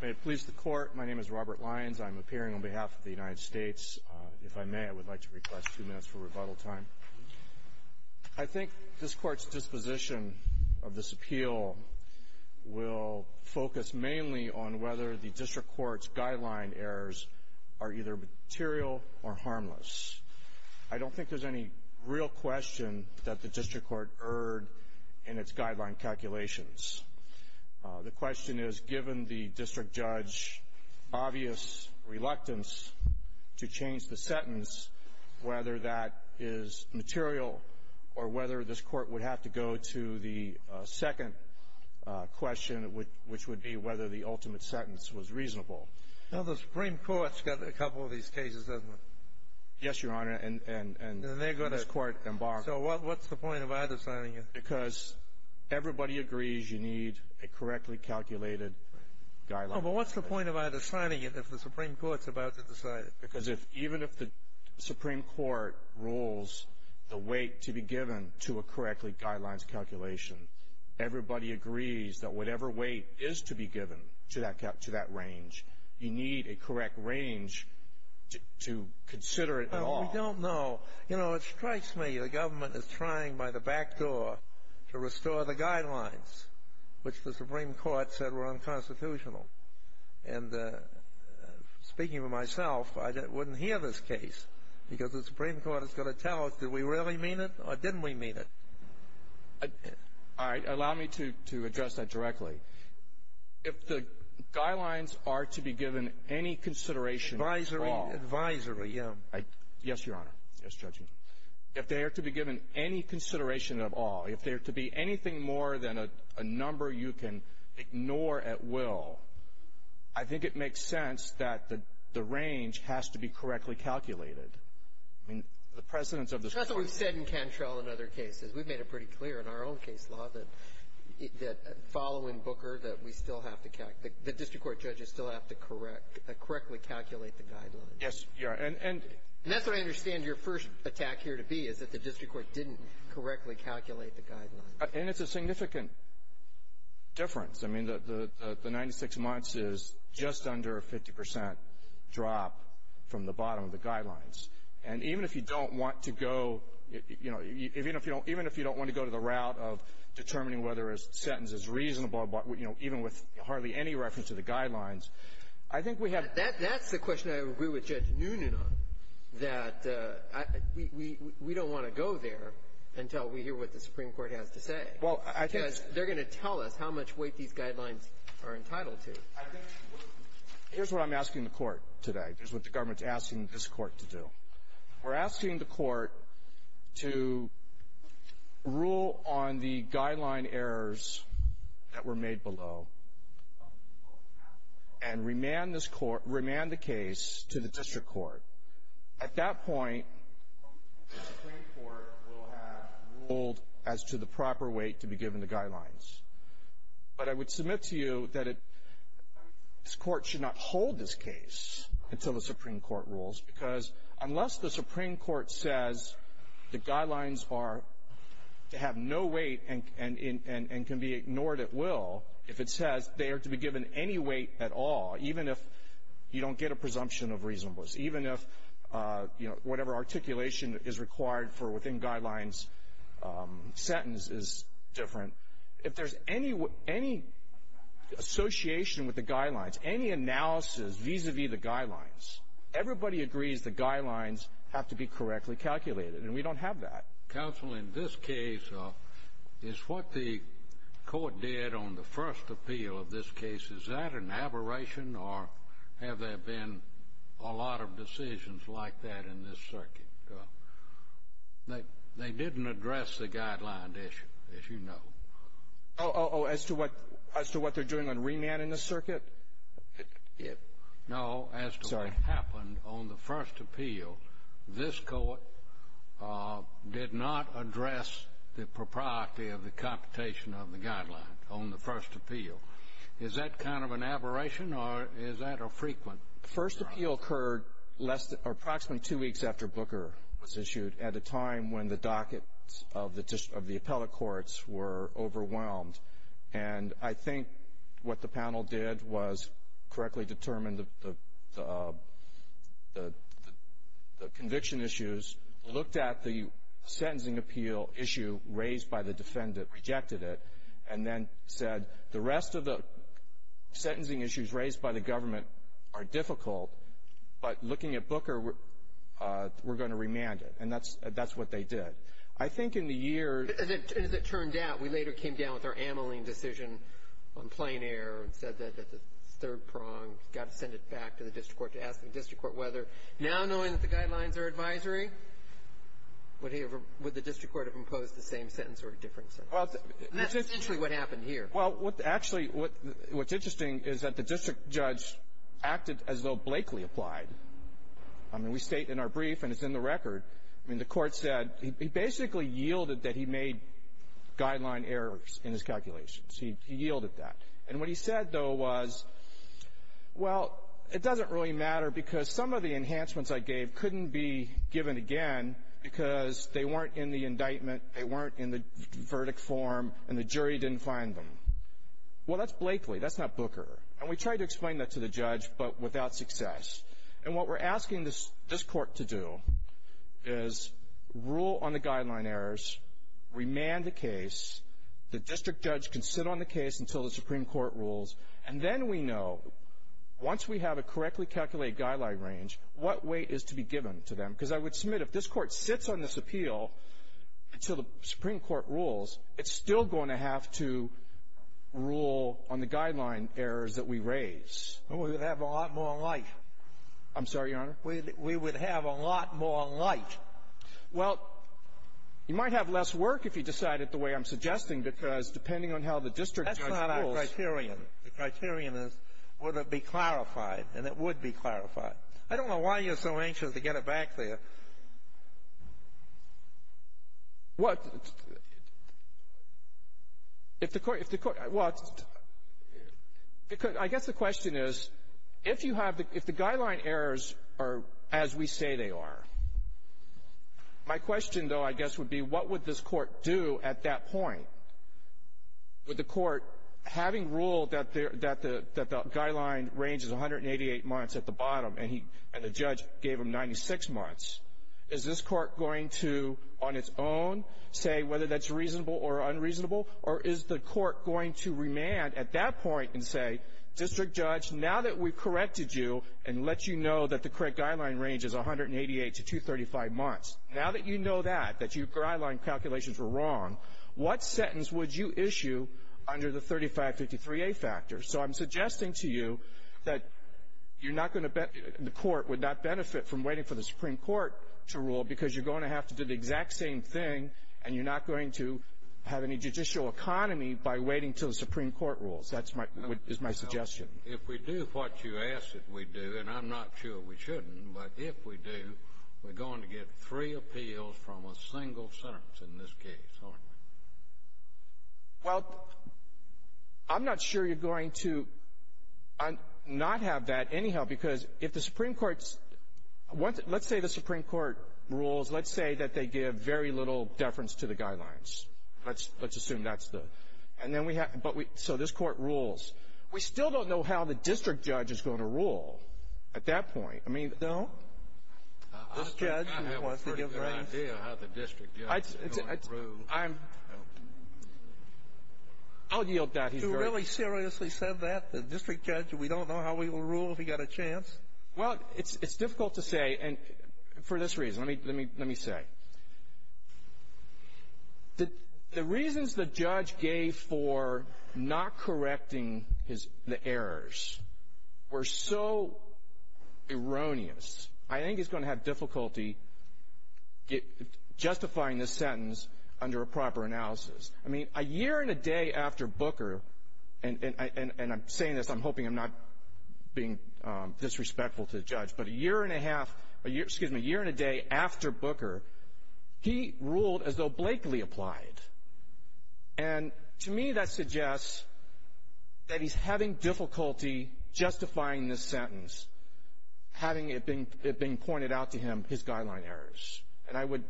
May it please the Court, my name is Robert Lyons. I'm appearing on behalf of the United States. If I may, I would like to request two minutes for rebuttal time. I think this Court's disposition of this appeal will focus mainly on whether the District Court's guideline errors are either material or harmless. I don't think there's any real question that the District Court erred in its guideline calculations. The question is, given the District Judge's obvious reluctance to change the sentence, whether that is material or whether this Court would have to go to the second question, which would be whether the ultimate sentence was reasonable. Well, the Supreme Court's got a couple of these cases, doesn't it? Yes, Your Honor, and this Court embargoed. So what's the point of either signing it? Because everybody agrees you need a correctly calculated guideline. Oh, but what's the point of either signing it if the Supreme Court's about to decide it? Because even if the Supreme Court rules the weight to be given to a correctly guidelines calculation, everybody agrees that whatever weight is to be given to that range, you need a correct range to consider it at all. We don't know. You know, it strikes me the government is trying by the back door to restore the guidelines, which the Supreme Court said were unconstitutional. And speaking for myself, I wouldn't hear this case because the Supreme Court is going to tell us, did we really mean it or didn't we mean it? All right, allow me to address that directly. If the guidelines are to be given any consideration at all. Advisory, advisory, yeah. Yes, Your Honor. Yes, Judge. If they are to be given any consideration at all, if they are to be anything more than a number you can ignore at will, I think it makes sense that the range has to be correctly calculated. I mean, the precedence of the Supreme Court. That's what we've said in Cantrell and other cases. We've made it pretty clear in our own case law that following Booker that we still have to calculate, the district court judges still have to correctly calculate the guidelines. Yes, Your Honor. And that's what I understand your first attack here to be is that the district court didn't correctly calculate the guidelines. And it's a significant difference. I mean, the 96 months is just under a 50 percent drop from the bottom of the guidelines. And even if you don't want to go, you know, even if you don't want to go to the route of determining whether a sentence is reasonable, you know, even with hardly any reference to the guidelines, I think we have. That's the question I agree with Judge Noonan on, that we don't want to go there until we hear what the Supreme Court has to say. Well, I think. Because they're going to tell us how much weight these guidelines are entitled to. Here's what I'm asking the court today. Here's what the government's asking this court to do. We're asking the court to rule on the guideline errors that were made below and remand the case to the district court. At that point, the Supreme Court will have ruled as to the proper weight to be given the guidelines. But I would submit to you that this court should not hold this case until the Supreme Court rules. Because unless the Supreme Court says the guidelines are to have no weight and can be ignored at will, if it says they are to be given any weight at all, even if you don't get a presumption of reasonableness, even if whatever articulation is required for within guidelines sentence is different, if there's any association with the guidelines, any analysis vis-a-vis the guidelines, everybody agrees the guidelines have to be correctly calculated. And we don't have that. Counsel, in this case, is what the court did on the first appeal of this case, is that an aberration or have there been a lot of decisions like that in this circuit? They didn't address the guideline issue, as you know. Oh, as to what they're doing on remand in this circuit? No, as to what happened on the first appeal, this court did not address the propriety of the computation of the guidelines on the first appeal. Is that kind of an aberration or is that a frequent problem? The first appeal occurred approximately two weeks after Booker was issued, at a time when the dockets of the appellate courts were overwhelmed. And I think what the panel did was correctly determine the conviction issues, looked at the sentencing appeal issue raised by the defendant, rejected it, and then said the rest of the sentencing issues raised by the government are difficult, but looking at Booker, we're going to remand it. And that's what they did. As it turned out, we later came down with our amyling decision on plain error and said that the third prong, got to send it back to the district court, to ask the district court whether, now knowing that the guidelines are advisory, would the district court have imposed the same sentence or a different sentence? That's essentially what happened here. Well, actually, what's interesting is that the district judge acted as though Blakely applied. I mean, we state in our brief and it's in the record. I mean, the court said he basically yielded that he made guideline errors in his calculations. He yielded that. And what he said, though, was, well, it doesn't really matter because some of the enhancements I gave couldn't be given again because they weren't in the indictment, they weren't in the verdict form, and the jury didn't find them. Well, that's Blakely. That's not Booker. And we tried to explain that to the judge, but without success. And what we're asking this court to do is rule on the guideline errors, remand the case, the district judge can sit on the case until the Supreme Court rules, and then we know, once we have a correctly calculated guideline range, what weight is to be given to them. Because I would submit if this court sits on this appeal until the Supreme Court rules, it's still going to have to rule on the guideline errors that we raise. Well, we would have a lot more light. I'm sorry, Your Honor. We would have a lot more light. Well, you might have less work if you decided the way I'm suggesting because depending on how the district judge rules — That's not our criterion. The criterion is would it be clarified, and it would be clarified. I don't know why you're so anxious to get it back there. Well, if the court — well, I guess the question is, if you have the — if the guideline errors are as we say they are, my question, though, I guess would be what would this court do at that point? Would the court, having ruled that the guideline range is 188 months at the bottom and the judge gave them 96 months, is this court going to, on its own, say whether that's reasonable or unreasonable? Or is the court going to remand at that point and say, District Judge, now that we've corrected you and let you know that the correct guideline range is 188 to 235 months, now that you know that, that your guideline calculations were wrong, what sentence would you issue under the 3553A factor? So I'm suggesting to you that you're not going to — the court would not benefit from waiting for the Supreme Court to rule because you're going to have to do the exact same thing, and you're not going to have any judicial economy by waiting until the Supreme Court rules. That's my — is my suggestion. If we do what you ask that we do, and I'm not sure we shouldn't, but if we do, we're going to get three appeals from a single sentence in this case, aren't we? Well, I'm not sure you're going to not have that anyhow, because if the Supreme Court's — let's say the Supreme Court rules, let's say that they give very little deference to the guidelines. Let's assume that's the — and then we have — but we — so this court rules. We still don't know how the District Judge is going to rule at that point. I mean, don't — I have a pretty good idea how the District Judge is going to rule. I'm — I'll yield that. You really seriously said that? The District Judge, we don't know how he will rule if he got a chance? Well, it's difficult to say, and for this reason. Let me — let me — let me say. The reasons the judge gave for not correcting his — the errors were so erroneous. I think he's going to have difficulty justifying this sentence under a proper analysis. I mean, a year and a day after Booker — and I'm saying this, I'm hoping I'm not being disrespectful to the judge, but a year and a half — excuse me, a year and a day after Booker, he ruled as though Blakely applied. And to me, that suggests that he's having difficulty justifying this sentence, having it being pointed out to him, his guideline errors. And I would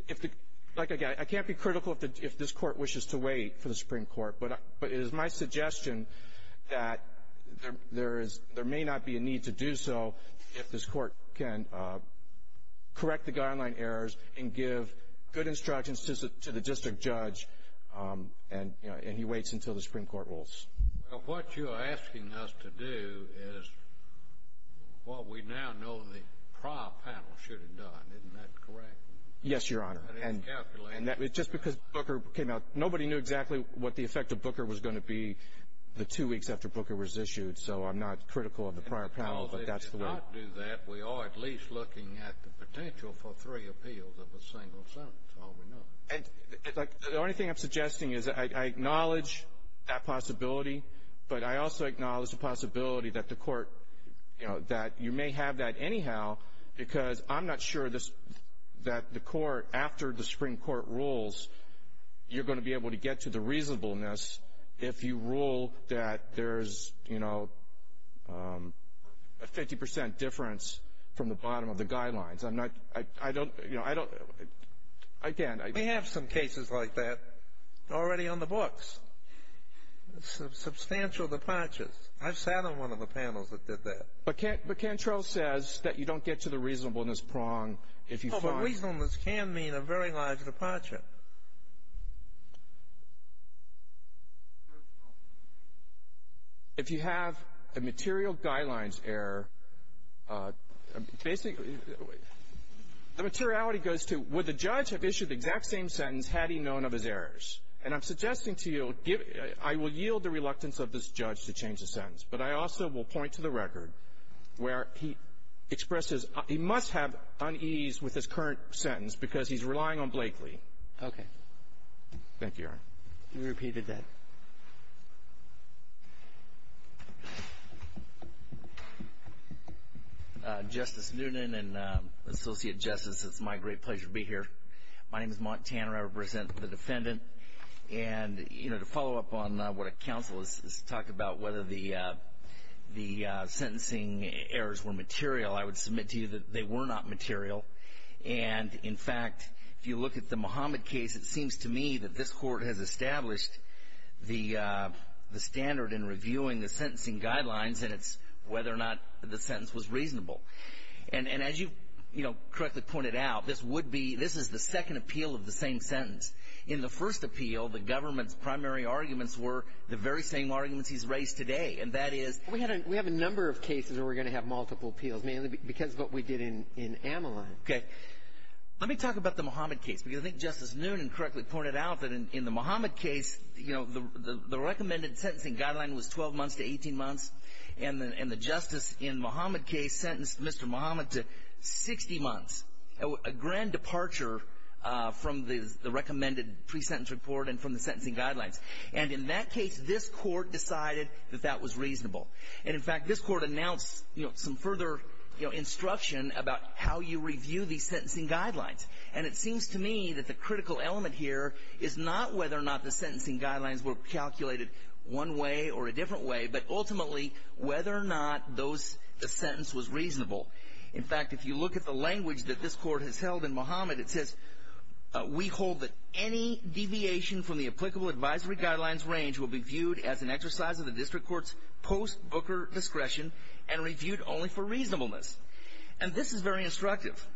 — like, again, I can't be critical if this court wishes to wait for the Supreme Court, but it is my suggestion that there is — there may not be a need to do so if this court can correct the guideline errors and give good instructions to the District Judge, and, you know, he waits until the Supreme Court rules. Well, what you're asking us to do is what we now know the prior panel should have done. Isn't that correct? Yes, Your Honor. And it's calculated. And just because Booker came out — nobody knew exactly what the effect of Booker was going to be the two weeks after Booker was issued, so I'm not critical of the prior panel, but that's the way — Well, they did not do that. We are at least looking at the potential for three appeals of a single sentence, all we know. And, like, the only thing I'm suggesting is I acknowledge that possibility, but I also acknowledge the possibility that the court — you know, that you may have that anyhow because I'm not sure this — that the court, after the Supreme Court rules, you're going to be able to get to the reasonableness if you rule that there's, you know, a 50 percent difference from the bottom of the guidelines. I'm not — I don't — you know, I don't — I can't. We have some cases like that already on the books. Substantial departures. I've sat on one of the panels that did that. But Cantrell says that you don't get to the reasonableness prong if you find — Oh, but reasonableness can mean a very large departure. If you have a material guidelines error, basically, the materiality goes to would the judge have known of his errors. And I'm suggesting to you — I will yield the reluctance of this judge to change the sentence, but I also will point to the record where he expresses — he must have unease with his current sentence because he's relying on Blakely. Okay. Thank you, Your Honor. You repeated that. Justice Noonan and Associate Justice, it's my great pleasure to be here. My name is Mont Tanner. I represent the defendant. And, you know, to follow up on what a counsel is talking about, whether the sentencing errors were material, I would submit to you that they were not material. And, in fact, if you look at the Muhammad case, it seems to me that this court has established the standard in reviewing the sentencing guidelines, and it's whether or not the sentence was reasonable. And as you, you know, correctly pointed out, this would be — this is the second appeal of the same sentence. In the first appeal, the government's primary arguments were the very same arguments he's raised today, and that is — We have a number of cases where we're going to have multiple appeals, mainly because of what we did in Amelot. Okay. Let me talk about the Muhammad case, because I think Justice Noonan correctly pointed out that in the Muhammad case, you know, the recommended sentencing guideline was 12 months to 18 months, and the justice in the Muhammad case sentenced Mr. Muhammad to 60 months, a grand departure from the recommended pre-sentence report and from the sentencing guidelines. And in that case, this court decided that that was reasonable. And, in fact, this court announced, you know, some further, you know, instruction about how you review these sentencing guidelines. And it seems to me that the critical element here is not whether or not the sentencing whether or not those — the sentence was reasonable. In fact, if you look at the language that this court has held in Muhammad, it says, we hold that any deviation from the applicable advisory guidelines range will be viewed as an exercise of the district court's post-Booker discretion and reviewed only for reasonableness. And this is very instructive.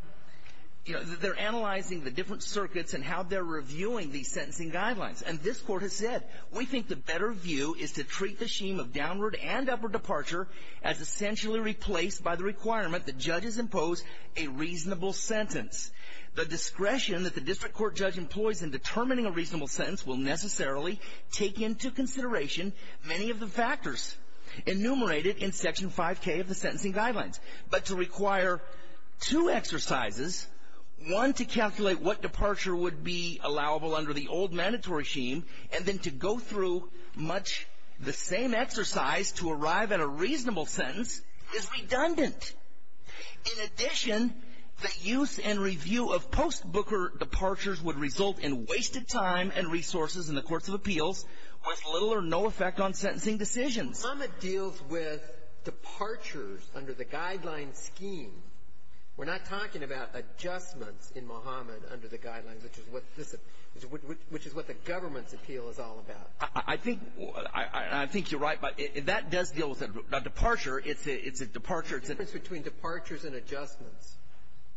You know, they're analyzing the different circuits and how they're reviewing these sentencing guidelines. And this court has said, we think the better view is to treat the scheme of downward and upper departure as essentially replaced by the requirement that judges impose a reasonable sentence. The discretion that the district court judge employs in determining a reasonable sentence will necessarily take into consideration many of the factors enumerated in Section 5K of the sentencing guidelines. But to require two exercises, one, to calculate what departure would be allowable under the old mandatory scheme, and then to go through much the same exercise to arrive at a reasonable sentence is redundant. In addition, the use and review of post-Booker departures would result in wasted time and resources in the courts of appeals with little or no effect on sentencing decisions. Muhammad deals with departures under the guideline scheme. We're not talking about adjustments in Muhammad under the guidelines, which is what the government's appeal is all about. I think you're right. But that does deal with a departure. It's a departure. It's a difference between departures and adjustments.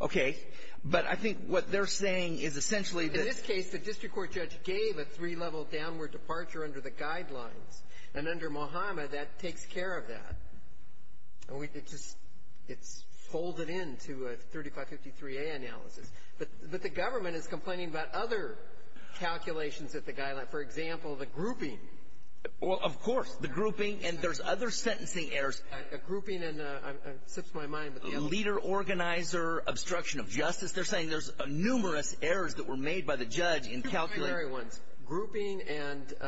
Okay. But I think what they're saying is essentially that — In this case, the district court judge gave a three-level downward departure under the guidelines. And under Muhammad, that takes care of that. It's folded into a 3553A analysis. But the government is complaining about other calculations at the guideline. For example, the grouping. Well, of course. The grouping. And there's other sentencing errors. A grouping and — it slips my mind, but — Leader, organizer, obstruction of justice. They're saying there's numerous errors that were made by the judge in calculating — Two primary ones. Grouping and —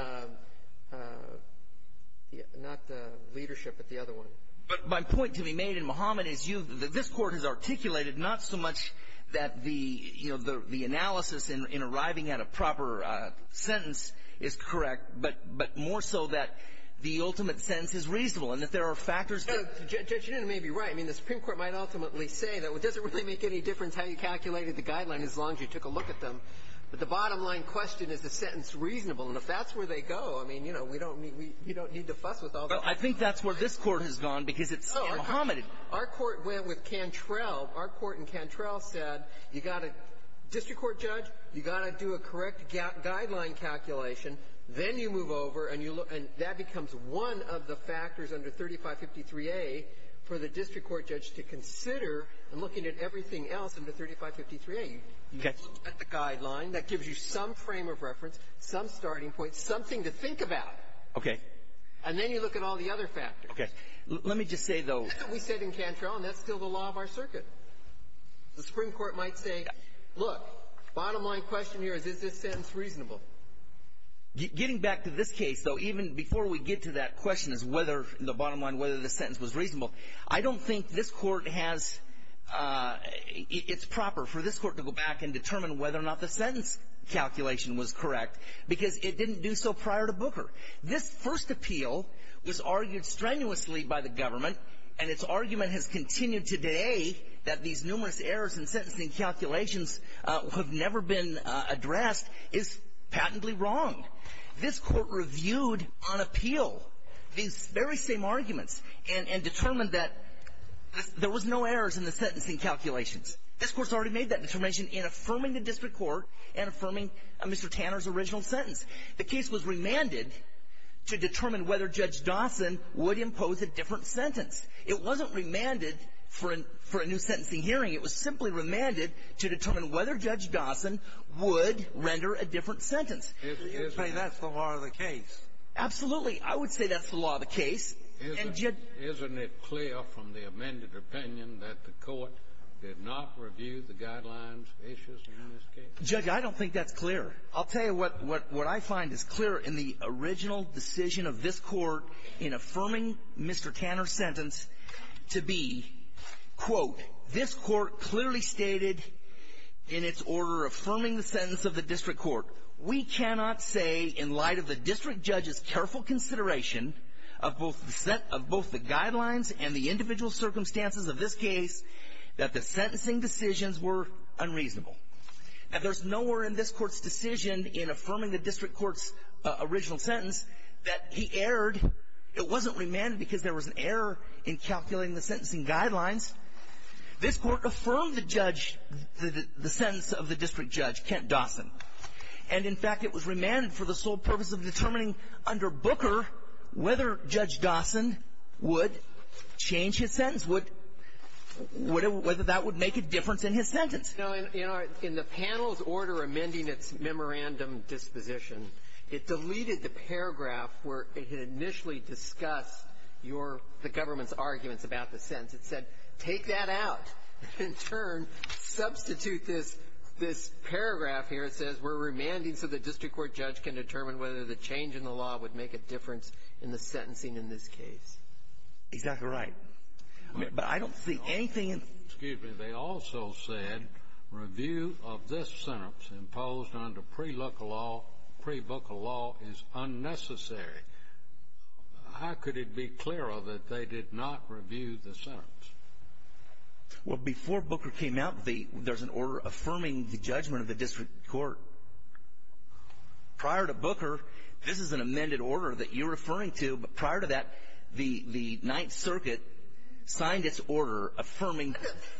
not the leadership, but the other one. But my point to be made in Muhammad is you — that this Court has articulated not so much that the — you know, the analysis in arriving at a proper sentence is correct, but more so that the ultimate sentence is reasonable and that there are factors that — Judge, you may be right. I mean, the Supreme Court might ultimately say that it doesn't really make any difference how you calculated the guideline as long as you took a look at them. But the bottom-line question is the sentence reasonable. And if that's where they go, I mean, you know, we don't need — you don't need to fuss with all the — Well, I think that's where this Court has gone because it's in Muhammad. Our court went with Cantrell. Our court in Cantrell said you got to — district court judge, you got to do a correct guideline calculation. Then you move over and you look — and that becomes one of the factors under 3553A for the district court judge to consider in looking at everything else under 3553A. Okay. You look at the guideline. That gives you some frame of reference, some starting point, something to think about. Okay. And then you look at all the other factors. Okay. Let me just say, though — That's what we said in Cantrell, and that's still the law of our circuit. The Supreme Court might say, look, bottom-line question here is, is this sentence reasonable? Getting back to this case, though, even before we get to that question as whether — the bottom line, whether the sentence was reasonable, I don't think this Court has — it's proper for this Court to go back and determine whether or not the sentence calculation was correct because it didn't do so prior to Booker. This first appeal was argued strenuously by the government, and its argument has continued today that these numerous errors in sentencing calculations have never been addressed is patently wrong. This Court reviewed on appeal these very same arguments and — and determined that there was no errors in the sentencing calculations. This Court's already made that determination in affirming the district court and affirming Mr. Tanner's original sentence. The case was remanded to determine whether Judge Dawson would impose a different sentence. It wasn't remanded for a — for a new sentencing hearing. It was simply remanded to determine whether Judge Dawson would render a different sentence. You're saying that's the law of the case. Absolutely. I would say that's the law of the case. Isn't it clear from the amended opinion that the Court did not review the guidelines issues in this case? Judge, I don't think that's clear. I'll tell you what — what I find is clear in the original decision of this Court in affirming Mr. Tanner's sentence to be, quote, this Court clearly stated in its order affirming the sentence of the district court, we cannot say in light of the district judge's careful consideration of both the — of both the guidelines and the individual circumstances of this case that the sentencing decisions were unreasonable. Now, there's nowhere in this Court's decision in affirming the district court's original sentence that he erred. It wasn't remanded because there was an error in calculating the sentencing guidelines. This Court affirmed the judge — the sentence of the district judge, Kent Dawson. And, in fact, it was remanded for the sole purpose of determining under Booker whether Judge Dawson would change his sentence, would — whether that would make a difference in his sentence. Breyer. You know, in the panel's order amending its memorandum disposition, it deleted the paragraph where it had initially discussed your — the government's arguments about the sentence. It said, take that out and, in turn, substitute this — this paragraph here. It says, we're remanding so the district court judge can determine whether the change in the law would make a difference in the sentencing in this case. He's not going to write. But I don't see anything in — Excuse me. They also said, review of this sentence imposed under pre-Luca law — pre-Booker law is unnecessary. How could it be clearer that they did not review the sentence? Well, before Booker came out, the — there's an order affirming the judgment of the district court. Prior to Booker, this is an amended order that you're referring to. Prior to that, the — the Ninth Circuit signed its order affirming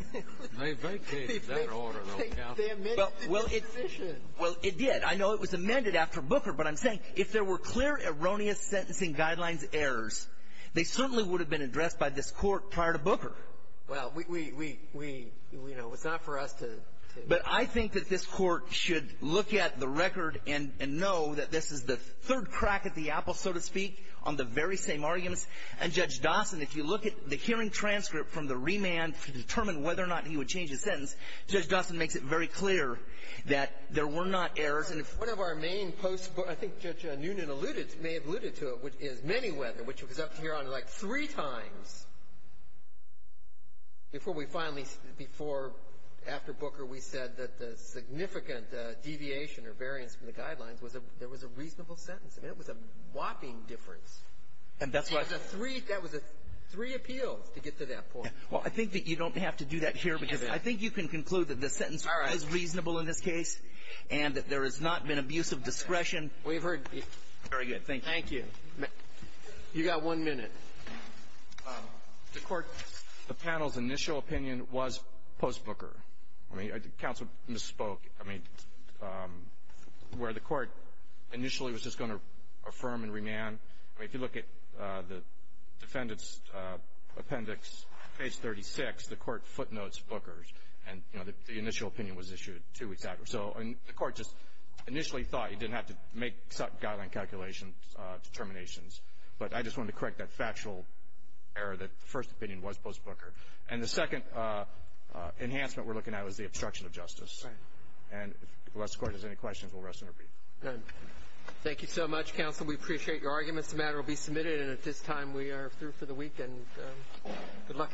— They vacated that order, though. They amended the disposition. Well, it — well, it did. I know it was amended after Booker, but I'm saying, if there were clear erroneous sentencing guidelines errors, they certainly would have been addressed by this court prior to Booker. Well, we — we — we — you know, it's not for us to — But I think that this court should look at the record and — and know that this is the third crack at the apple, so to speak, on the very same arguments. And Judge Dawson, if you look at the hearing transcript from the remand to determine whether or not he would change his sentence, Judge Dawson makes it very clear that there were not errors. And if one of our main post — I think Judge Noonan alluded — may have alluded to it, which is many whether, which was up here on, like, three times before we finally — before — after Booker, we said that the significant deviation or variance from the guidelines was that there was a reasonable sentence. I mean, it was a whopping difference. And that's why — It was a three — that was a three appeals to get to that point. Well, I think that you don't have to do that here because I think you can conclude that the sentence was reasonable in this case and that there has not been abusive discretion. We've heard — Very good. Thank you. Thank you. You've got one minute. The court — The panel's initial opinion was post Booker. I mean, counsel misspoke. I mean, where the court initially was just going to affirm and remand. I mean, if you look at the defendant's appendix, page 36, the court footnotes Booker's. And, you know, the initial opinion was issued two weeks after. So, I mean, the court just initially thought he didn't have to make exact guideline calculation determinations. But I just wanted to correct that factual error that the first opinion was post Booker. And if the last court has any questions, we'll rest and repeat. Good. Thank you so much, counsel. We appreciate your arguments. The matter will be submitted. And at this time, we are through for the week. And good luck to all.